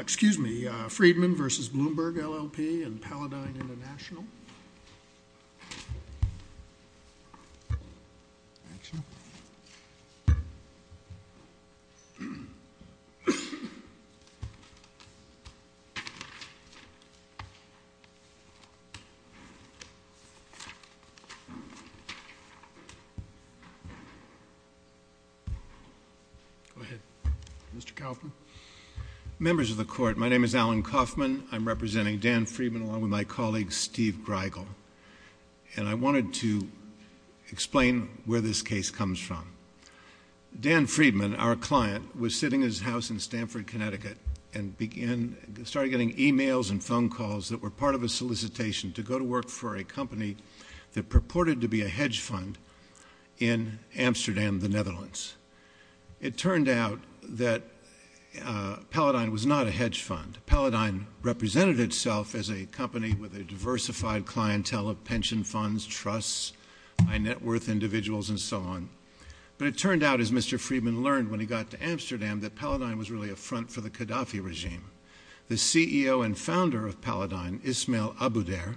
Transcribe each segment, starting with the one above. Excuse me, Friedman v. Bloomberg L.L.P. and Paladine International. Go ahead, Mr. Kaufman. Members of the Court, my name is Alan Kaufman. I'm representing Dan Friedman along with my colleague Steve Greigel. And I wanted to explain where this case comes from. Dan Friedman, our client, was sitting in his house in Stanford, Connecticut, and started getting e-mails and phone calls that were part of a solicitation to go to work for a company that purported to be a hedge fund in Amsterdam, the Netherlands. It turned out that Paladine was not a hedge fund. Paladine represented itself as a company with a diversified clientele of pension funds, trusts, high net worth individuals, and so on. But it turned out, as Mr. Friedman learned when he got to Amsterdam, that Paladine was really a front for the Gaddafi regime. The CEO and founder of Paladine, Ismail Abouder,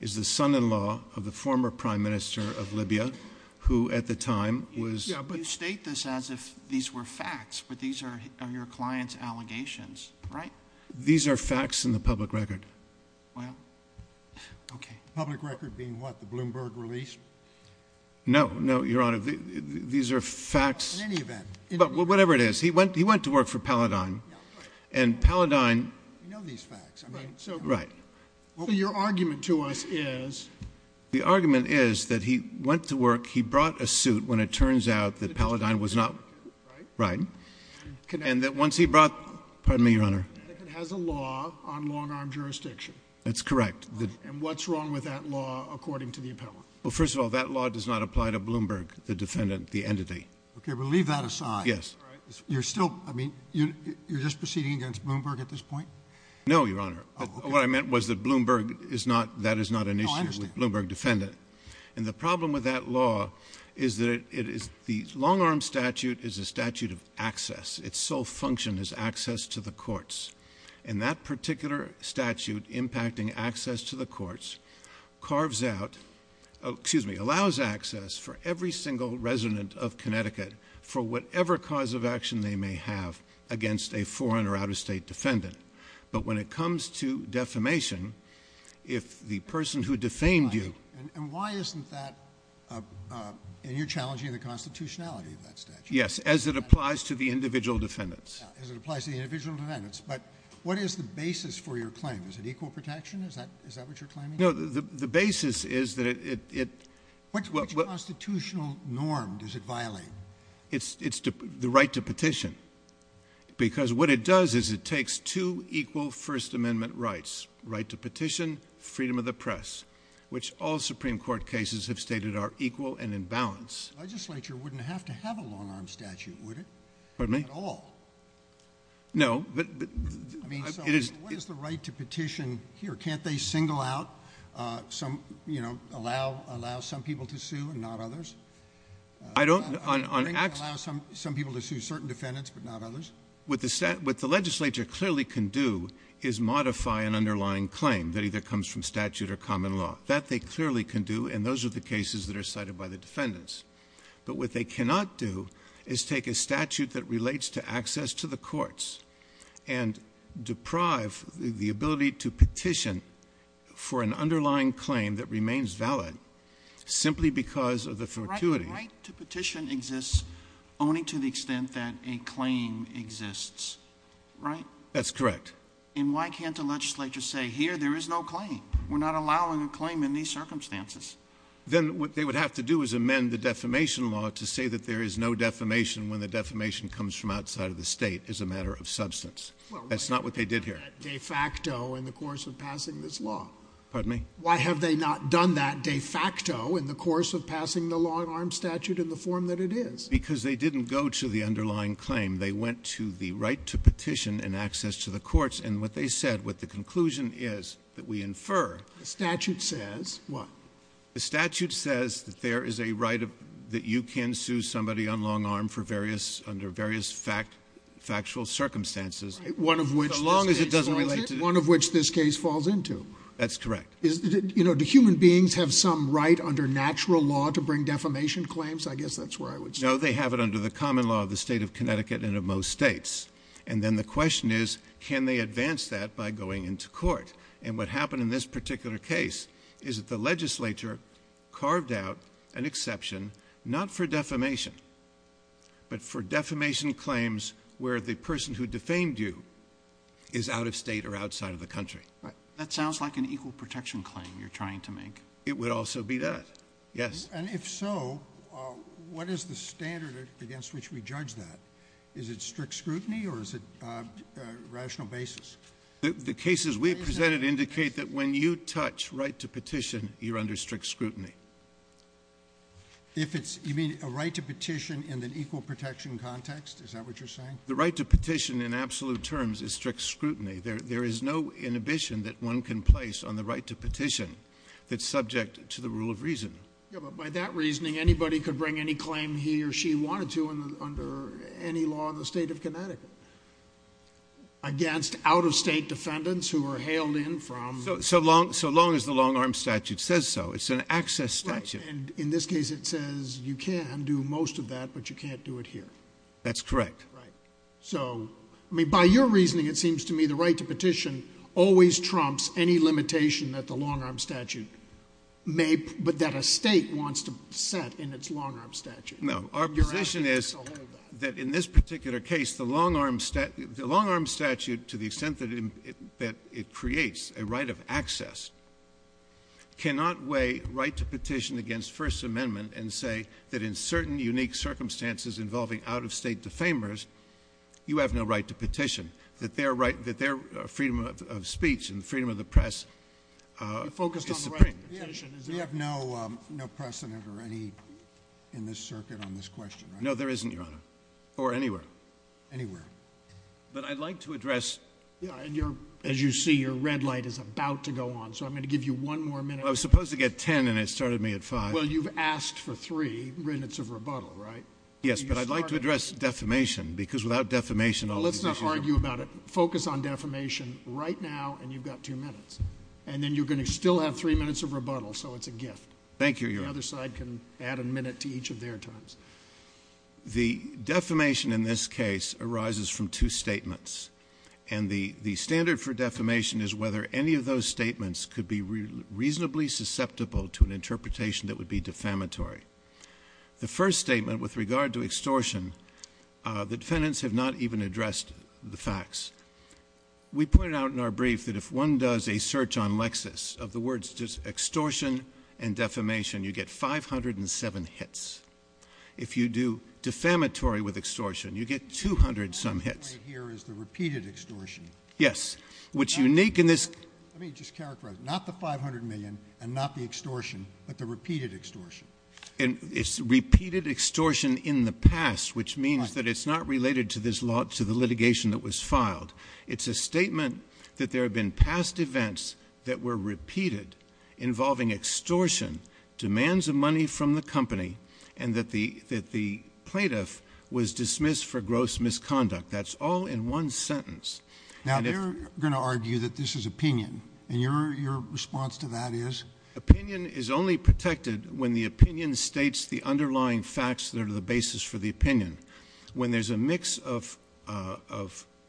is the son-in-law of the former Prime Minister of Libya, who at the time was... You state this as if these were facts, but these are your client's allegations, right? These are facts in the public record. Well, okay. The public record being what, the Bloomberg release? No, no, Your Honor. These are facts. In any event... Whatever it is, he went to work for Paladine, and Paladine... We know these facts. Right. So your argument to us is... The argument is that he went to work, he brought a suit when it turns out that Paladine was not... Right. Right. And that once he brought... Pardon me, Your Honor. Connecticut has a law on long-arm jurisdiction. That's correct. And what's wrong with that law according to the appellate? Well, first of all, that law does not apply to Bloomberg, the defendant, the entity. Okay, but leave that aside. Yes. You're still... I mean, you're just proceeding against Bloomberg at this point? No, Your Honor. Oh, okay. What I meant was that Bloomberg is not... that is not an issue... Oh, I understand.... with Bloomberg defendant. And the problem with that law is that it is... the long-arm statute is a statute of access. Its sole function is access to the courts. And that particular statute impacting access to the courts carves out... Oh, excuse me, allows access for every single resident of Connecticut for whatever cause of action they may have against a foreign or out-of-state defendant. But, when it comes to defamation, if the person who defamed you... And why isn't that... and you're challenging the constitutionality of that statute? Yes, as it applies to the individual defendants. As it applies to the individual defendants. But, what is the basis for your claim? Is it equal protection? Is that what you're claiming? No, the basis is that it... Which constitutional norm does it violate? It's the right to petition. Because, what it does is it takes two equal First Amendment rights. Right to petition, freedom of the press, which all Supreme Court cases have stated are equal and in balance. The legislature wouldn't have to have a long-arm statute, would it? Pardon me? At all. No, but... I mean, so what is the right to petition here? Can't they single out some... you know, allow some people to sue and not others? I don't... on... Allow some people to sue certain defendants, but not others? What the legislature clearly can do is modify an underlying claim that either comes from statute or common law. That they clearly can do, and those are the cases that are cited by the defendants. But, what they cannot do is take a statute that relates to access to the courts... and deprive the ability to petition for an underlying claim that remains valid, simply because of the fortuity. The right to petition exists only to the extent that a claim exists, right? That's correct. And, why can't the legislature say, here, there is no claim? We're not allowing a claim in these circumstances. Then, what they would have to do is amend the defamation law to say that there is no defamation... when the defamation comes from outside of the state, as a matter of substance. That's not what they did here. Well, why haven't they done that de facto, in the course of passing this law? Pardon me? Why have they not done that de facto, in the course of passing the long-arm statute in the form that it is? Because they didn't go to the underlying claim. They went to the right to petition and access to the courts. And, what they said, what the conclusion is, that we infer... The statute says... What? The statute says that there is a right that you can sue somebody on long-arm for various... under various factual circumstances. One of which... As long as it doesn't relate to... One of which this case falls into. That's correct. You know, do human beings have some right, under natural law, to bring defamation claims? I guess that's where I would start. No, they have it under the common law of the state of Connecticut and of most states. And then, the question is, can they advance that by going into court? And, what happened in this particular case is that the legislature carved out an exception, not for defamation, but for defamation claims where the person who defamed you is out of State or outside of the country. Right. That sounds like an equal protection claim you're trying to make. It would also be that. Yes. And, if so, what is the standard against which we judge that? Is it strict scrutiny, or is it a rational basis? The cases we presented indicate that when you touch right to petition, you're under strict scrutiny. If it's... You mean a right to petition in an equal protection context? Is that what you're saying? The right to petition, in absolute terms, is strict scrutiny. There is no inhibition that one can place on the right to petition that's subject to the rule of reason. Yeah, but by that reasoning, anybody could bring any claim he or she wanted to under any law in the State of Connecticut. Against out-of-State defendants who were hailed in from... So long as the long-arm statute says so. It's an access statute. Right. And, in this case, it says you can do most of that, but you can't do it here. That's correct. Right. So, I mean, by your reasoning, it seems to me the right to petition always trumps any limitation that the long-arm statute may... but that a State wants to set in its long-arm statute. No. Our position is that in this particular case, the long-arm statute, to the extent that it creates a right of access, cannot weigh right to petition against First Amendment and say that in certain unique circumstances involving out-of-State defamers, you have no right to petition, that their freedom of speech and freedom of the press is supreme. We have no precedent or any in this circuit on this question, right? No, there isn't, Your Honor. Or anywhere. Anywhere. But I'd like to address... Yeah, and you're... as you see, your red light is about to go on, so I'm going to give you one more minute. I was supposed to get ten, and it started me at five. Well, you've asked for three minutes of rebuttal, right? Yes, but I'd like to address defamation, because without defamation... Well, let's not argue about it. Focus on defamation right now, and you've got two minutes. And then you're going to still have three minutes of rebuttal, so it's a gift. Thank you, Your Honor. The other side can add a minute to each of their times. The defamation in this case arises from two statements, and the standard for defamation is whether any of those statements could be reasonably susceptible to an interpretation that would be defamatory. The first statement, with regard to extortion, the defendants have not even addressed the facts. We pointed out in our brief that if one does a search on Lexis of the words extortion and defamation, you get 507 hits. If you do defamatory with extortion, you get 200-some hits. What's unique here is the repeated extortion. Yes. What's unique in this... Let me just characterize. Not the $500 million and not the extortion, but the repeated extortion. It's repeated extortion in the past, which means that it's not related to the litigation that was filed. It's a statement that there have been past events that were repeated involving extortion, demands of money from the company, and that the plaintiff was dismissed for gross misconduct. That's all in one sentence. Now, they're going to argue that this is opinion, and your response to that is? Opinion is only protected when the opinion states the underlying facts that are the basis for the opinion. When there's a mix of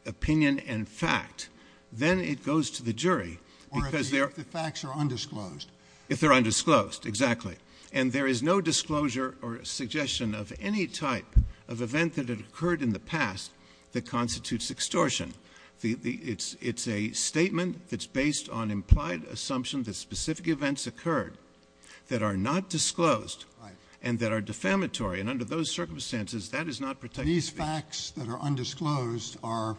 opinion and fact, then it goes to the jury because there... Or if the facts are undisclosed. If they're undisclosed, exactly. And there is no disclosure or suggestion of any type of event that had occurred in the past that constitutes extortion. It's a statement that's based on implied assumption that specific events occurred that are not disclosed... Right.... and that are defamatory. And under those circumstances, that is not protected. These facts that are undisclosed are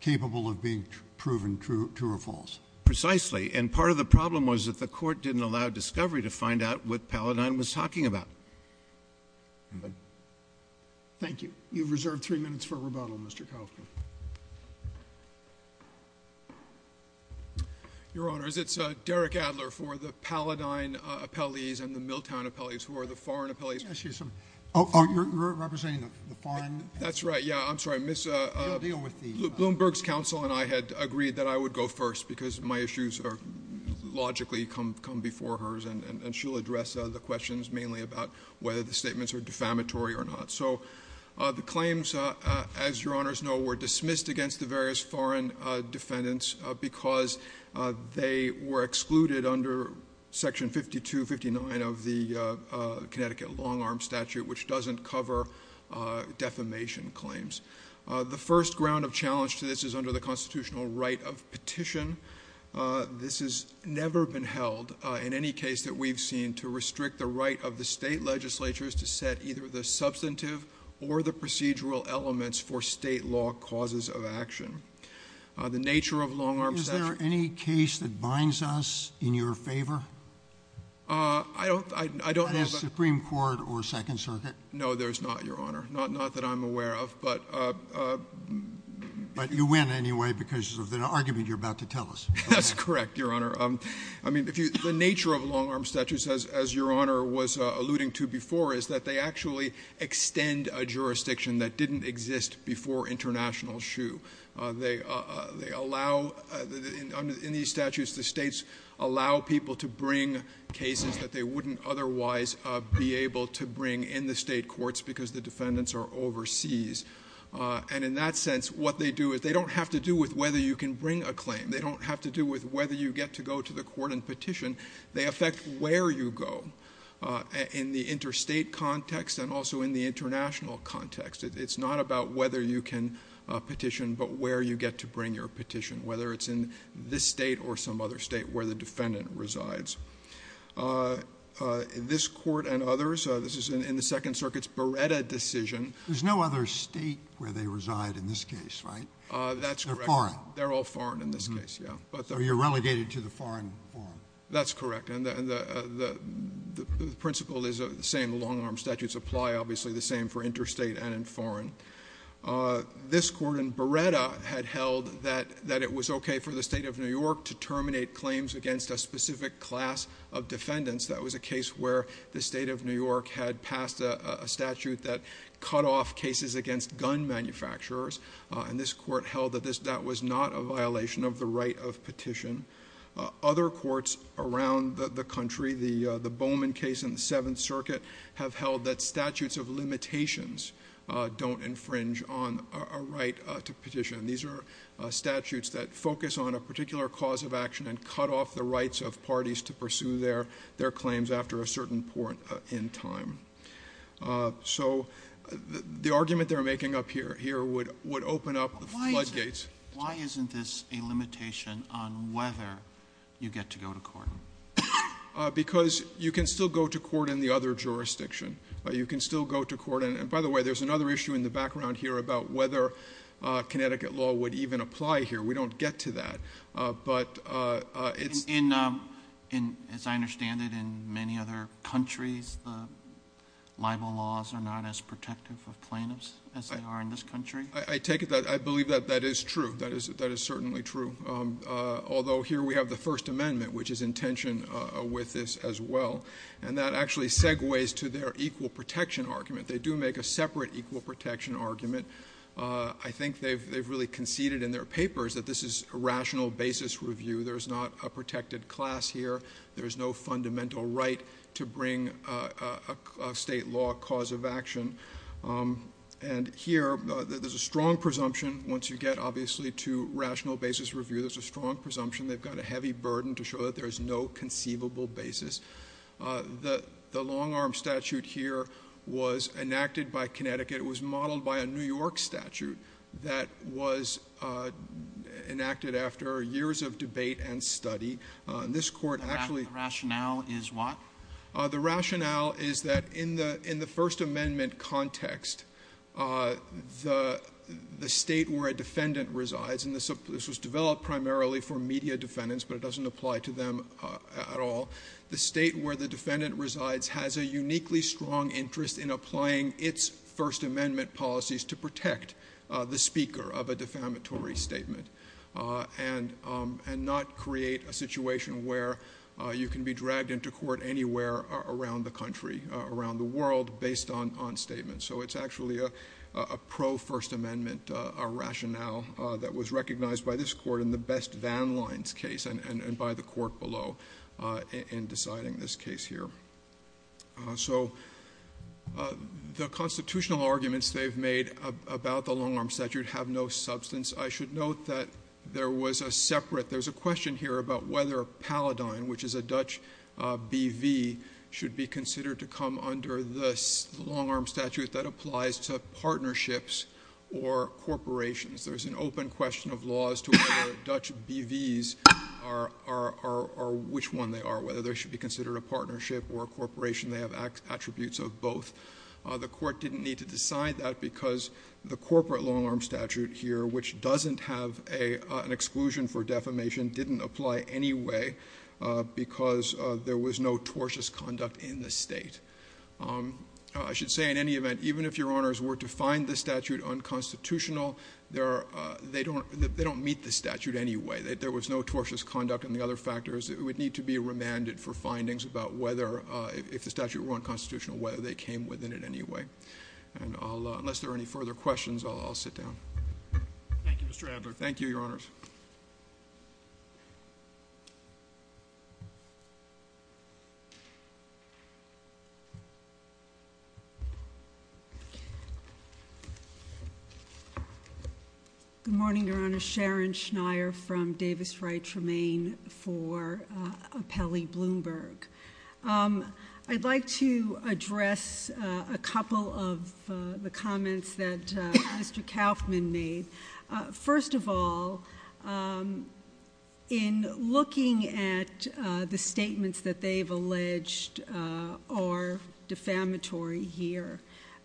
capable of being proven true or false. Precisely. And part of the problem was that the Court didn't allow discovery to find out what Paladin was talking about. Thank you. You've reserved three minutes for rebuttal, Mr. Kaufman. Your Honors, it's Derek Adler for the Paladin appellees and the Miltown appellees, who are the foreign appellees. Excuse me. Oh, you're representing the foreign... That's right. Yeah, I'm sorry. You'll deal with the... Bloomberg's counsel and I had agreed that I would go first because my issues logically come before hers. And she'll address the questions mainly about whether the statements are defamatory or not. So, the claims, as Your Honors know, were dismissed against the various foreign defendants because they were excluded under Section 5259 of the Connecticut Long-Arm Statute, which doesn't cover defamation claims. The first ground of challenge to this is under the constitutional right of petition. This has never been held in any case that we've seen to restrict the right of the state legislatures to set either the substantive or the procedural elements for state law causes of action. The nature of Long-Arm Statute... Is there any case that binds us in your favor? I don't know... That is Supreme Court or Second Circuit. No, there's not, Your Honor. Not that I'm aware of, but... But you win anyway because of the argument you're about to tell us. That's correct, Your Honor. I mean, the nature of Long-Arm Statutes, as Your Honor was alluding to before, is that they actually extend a jurisdiction that didn't exist before international shoe. They allow... In these statutes, the states allow people to bring cases that they wouldn't otherwise be able to bring in the state courts because the defendants are overseas. And in that sense, what they do is... They don't have to do with whether you can bring a claim. They don't have to do with whether you get to go to the court and petition. They affect where you go in the interstate context and also in the international context. It's not about whether you can petition, but where you get to bring your petition, whether it's in this state or some other state where the defendant resides. This Court and others... This is in the Second Circuit's Beretta decision... There's no other state where they reside in this case, right? That's correct. They're foreign. They're all foreign in this case, yeah. So you're relegated to the foreign forum. That's correct. And the principle is the same. The Long-Arm Statutes apply, obviously, the same for interstate and in foreign. This Court in Beretta had held that it was okay for the State of New York to terminate claims against a specific class of defendants. That was a case where the State of New York had passed a statute that cut off cases against gun manufacturers. And this Court held that that was not a violation of the right of petition. Other courts around the country... The Bowman case in the Seventh Circuit have held that statutes of limitations don't infringe on a right to petition. These are statutes that focus on a particular cause of action and cut off the rights of parties to pursue their claims after a certain point in time. So the argument they're making up here would open up floodgates. Why isn't this a limitation on whether you get to go to court? Because you can still go to court in the other jurisdiction. You can still go to court in... We don't get to that. But it's... As I understand it, in many other countries, libel laws are not as protective of plaintiffs as they are in this country? I take it that... I believe that that is true. That is certainly true. Although here we have the First Amendment, which is in tension with this as well. And that actually segues to their equal protection argument. They do make a separate equal protection argument. I think they've really conceded in their papers that this is a rational basis review. There's not a protected class here. There's no fundamental right to bring a state law cause of action. And here, there's a strong presumption. Once you get, obviously, to rational basis review, there's a strong presumption. They've got a heavy burden to show that there's no conceivable basis. The long-arm statute here was enacted by Connecticut. It was modeled by a New York statute that was enacted after years of debate and study. This Court actually... The rationale is what? The rationale is that in the First Amendment context, the state where a defendant resides, and this was developed primarily for media defendants, but it doesn't apply to them at all, the state where the defendant resides has a uniquely strong interest in applying its First Amendment policies to protect the speaker of a defamatory statement and not create a situation where you can be dragged into court anywhere around the country, around the world, based on statements. So, it's actually a pro-First Amendment rationale that was recognized by this Court in the Best Van Lines case and by the Court below in deciding this case here. So, the constitutional arguments they've made about the long-arm statute have no substance. I should note that there was a separate... There's a question here about whether Paladine, which is a Dutch BV, should be considered to come under the long-arm statute that applies to partnerships or corporations. There's an open question of laws to whether Dutch BVs are... or a corporation. They have attributes of both. The Court didn't need to decide that because the corporate long-arm statute here, which doesn't have an exclusion for defamation, didn't apply anyway because there was no tortious conduct in the state. I should say, in any event, even if Your Honors were to find the statute unconstitutional, they don't meet the statute anyway. There was no tortious conduct. It would need to be remanded for findings about whether, if the statute were unconstitutional, whether they came within it anyway. Unless there are any further questions, I'll sit down. Thank you, Mr. Adler. Thank you, Your Honors. Good morning, Your Honors. Sharon Schneier from Davis Wright Tremaine for Appellee Bloomberg. I'd like to address a couple of the comments that Mr. Kauffman made. First of all, in looking at the statements that they've alleged are defamatory here,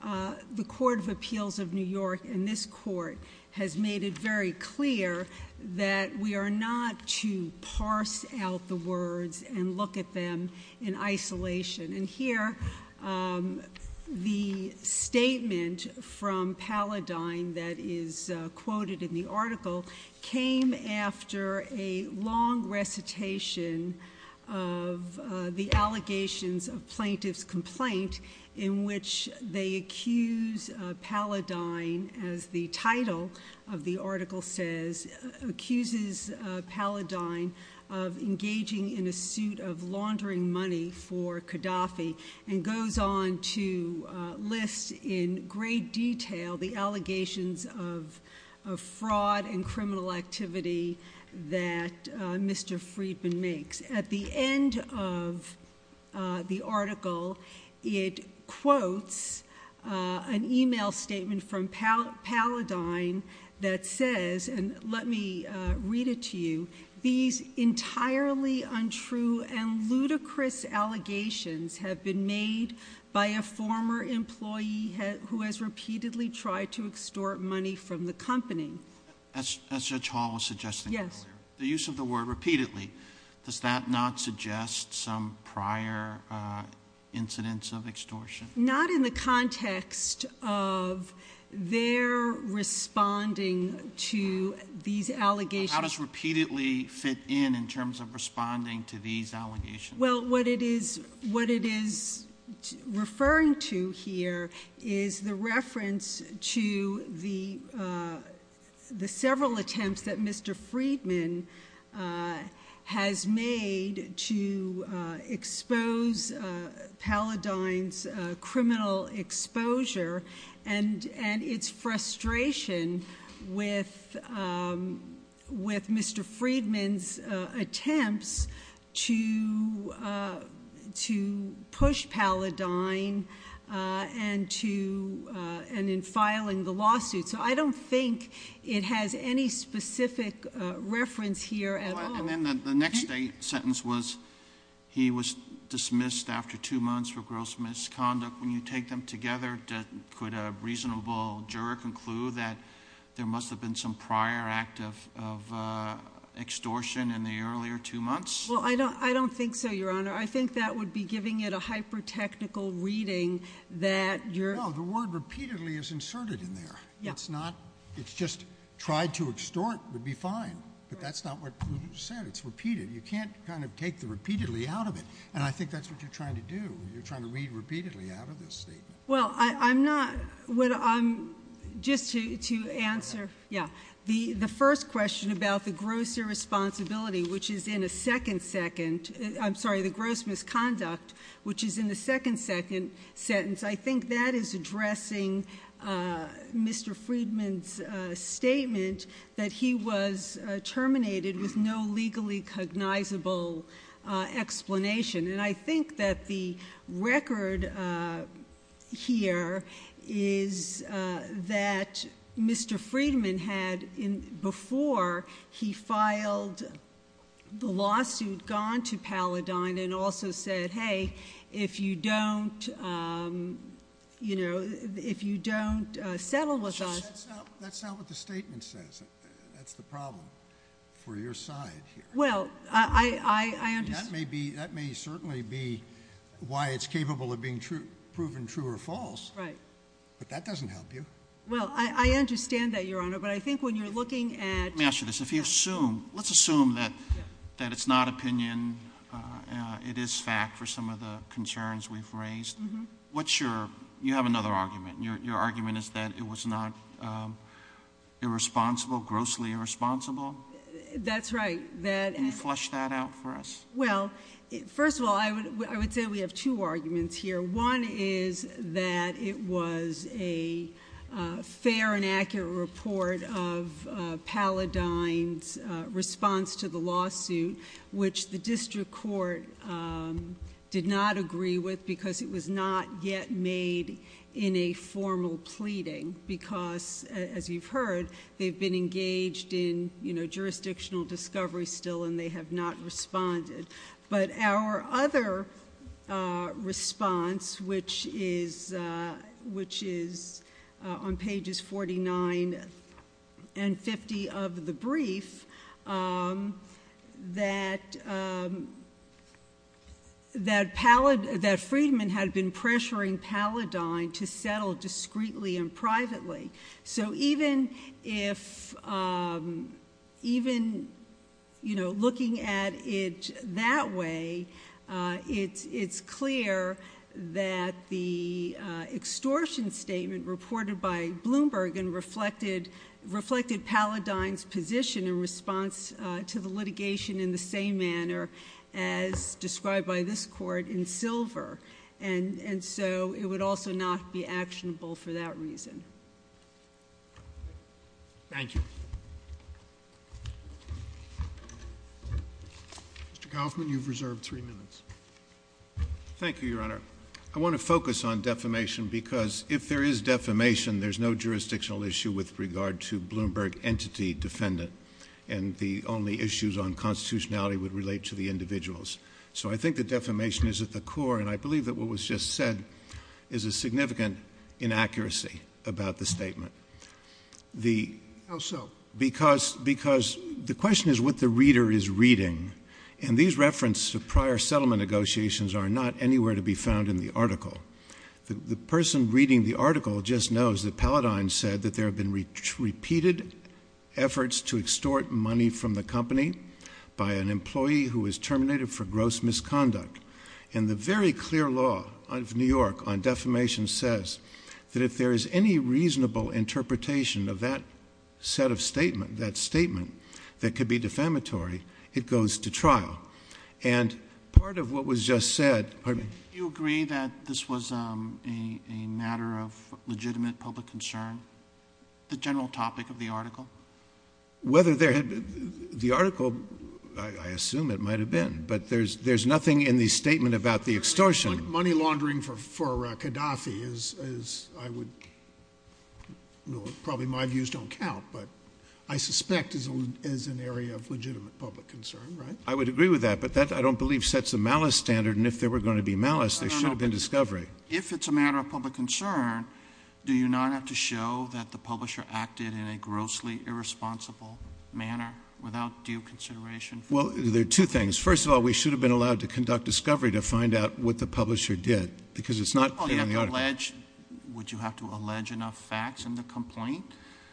the Court of Appeals of New York in this court has made it very clear that we are not to parse out the words and look at them in isolation. And here, the statement from Paladine that is quoted in the article came after a long recitation of the allegations of plaintiff's complaint in which they accuse Paladine, as the title of the article says, accuses Paladine of engaging in a suit of laundering money for Gaddafi and goes on to list in great detail the allegations of fraud and criminal activity that Mr. Friedman makes. At the end of the article, it quotes an email statement from Paladine that says, and let me read it to you, these entirely untrue and ludicrous allegations have been made by a former employee who has repeatedly tried to extort money from the company. As Judge Hall was suggesting earlier, the use of the word repeatedly, does that not suggest some prior incidents of extortion? Not in the context of their responding to these allegations. How does repeatedly fit in, in terms of responding to these allegations? Well, what it is referring to here is the reference to the several attempts that Mr. Paladine's criminal exposure and its frustration with Mr. Friedman's attempts to push Paladine and in filing the lawsuit. So I don't think it has any specific reference here at all. And then the next sentence was, he was dismissed after two months for gross misconduct. When you take them together, could a reasonable juror conclude that there must have been some prior act of extortion in the earlier two months? Well, I don't think so, Your Honor. I think that would be giving it a hyper-technical reading that you're No, the word repeatedly is inserted in there. It's not, it's just tried to extort would be fine. But that's not what you said. It's repeated. You can't kind of take the repeatedly out of it. And I think that's what you're trying to do. You're trying to read repeatedly out of this statement. Well, I'm not, just to answer, yeah. The first question about the gross irresponsibility, which is in a second second, I'm sorry, the gross misconduct, which is in the second second sentence, I think that is addressing Mr. Friedman's statement that he was terminated with no legally cognizable explanation. And I think that the record here is that Mr. Friedman had, before, he filed the lawsuit gone to Paladine and also said, hey, if you don't, you know, if you don't settle with us. That's not what the statement says. That's the problem for your side here. Well, I understand. That may be, that may certainly be why it's capable of being proven true or false. Right. But that doesn't help you. Well, I understand that, Your Honor. But I think when you're looking at- Let me ask you this. If you assume, let's assume that it's not opinion, it is fact for some of the concerns we've raised. What's your, you have another argument. Your argument is that it was not irresponsible, grossly irresponsible? That's right. Can you flesh that out for us? Well, first of all, I would say we have two arguments here. One is that it was a fair and accurate report of Paladine's response to the lawsuit, which the district court did not agree with because it was not yet made in a formal pleading. Because, as you've heard, they've been engaged in, you know, jurisdictional discovery still and they have not responded. But our other response, which is on pages 49 and 50 of the brief, that Friedman had been pressuring Paladine to settle discreetly and privately. So even if, even, you know, looking at it that way, it's clear that the extortion statement reported by Bloomberg and reflected Paladine's position in response to the litigation in the same manner as described by this court in Silver. And so it would also not be actionable for that reason. Thank you. Mr. Kaufman, you've reserved three minutes. Thank you, Your Honor. I want to focus on defamation because if there is defamation, there's no jurisdictional issue with regard to Bloomberg entity defendant. And the only issues on constitutionality would relate to the individuals. So I think that defamation is at the core. And I believe that what was just said is a significant inaccuracy about the statement. How so? Because the question is what the reader is reading. And these reference to prior settlement negotiations are not anywhere to be found in the article. The person reading the article just knows that Paladine said that there have been repeated efforts to extort money from the company by an employee who was terminated for gross misconduct. And the very clear law of New York on defamation says that if there is any reasonable interpretation of that set of statement, that statement that could be defamatory, it goes to trial. And part of what was just said, pardon me. Do you agree that this was a matter of legitimate public concern, the general topic of the article? Whether there had been, the article, I assume it might have been. But there's nothing in the statement about the extortion. Money laundering for Gaddafi is, I would, probably my views don't count, but I suspect is an area of legitimate public concern, right? I would agree with that. But that, I don't believe, sets a malice standard. And if there were going to be malice, there should have been discovery. If it's a matter of public concern, do you not have to show that the publisher acted in a grossly irresponsible manner without due consideration? Well, there are two things. First of all, we should have been allowed to conduct discovery to find out what the publisher did. Because it's not clear in the article. Would you have to allege enough facts in the complaint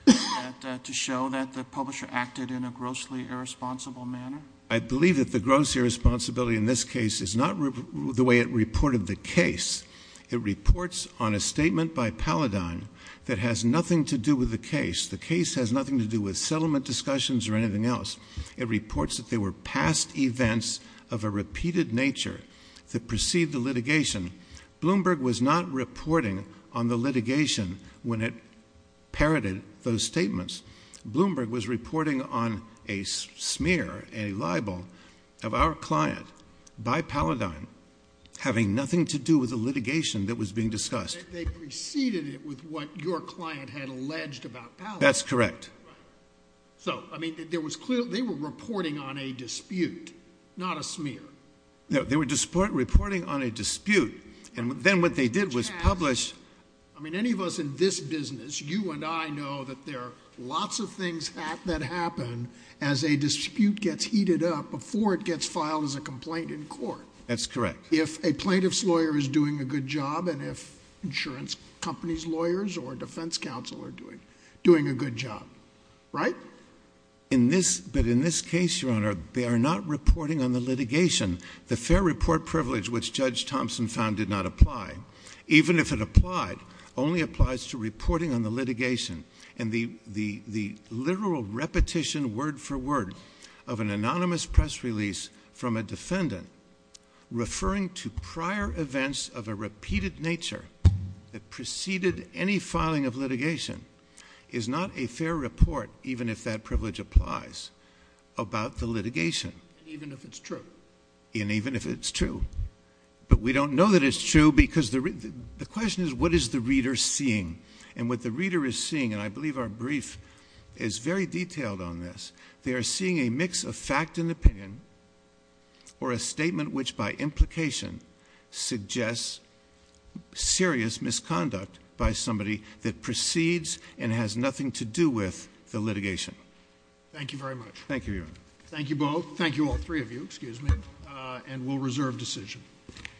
to show that the publisher acted in a grossly irresponsible manner? I believe that the gross irresponsibility in this case is not the way it reported the case. It reports on a statement by Paladin that has nothing to do with the case. The case has nothing to do with settlement discussions or anything else. It reports that there were past events of a repeated nature that preceded the litigation. Bloomberg was not reporting on the litigation when it parroted those statements. Bloomberg was reporting on a smear, a libel of our client by Paladin having nothing to do with the litigation that was being discussed. They preceded it with what your client had alleged about Paladin. That's correct. Right. So, I mean, there was clear, they were reporting on a dispute, not a smear. No, they were reporting on a dispute. And then what they did was publish. I mean, any of us in this business, you and I know that there are lots of things that happen as a dispute gets heated up before it gets filed as a complaint in court. That's correct. If a plaintiff's lawyer is doing a good job and if insurance company's lawyers or defense counsel are doing a good job. But in this case, Your Honor, they are not reporting on the litigation. The fair report privilege which Judge Thompson found did not apply, even if it applied, only applies to reporting on the litigation. And the literal repetition word for word of an anonymous press release from a defendant referring to prior events of a repeated nature that preceded any filing of litigation is not a fair report, even if that privilege applies, about the litigation. Even if it's true. And even if it's true. But we don't know that it's true because the question is what is the reader seeing? And what the reader is seeing, and I believe our brief is very detailed on this, they are seeing a mix of fact and opinion or a statement which by implication suggests serious misconduct by somebody that precedes and has nothing to do with the litigation. Thank you, Your Honor. Thank you both. Thank you all three of you, excuse me, and we'll reserve decision.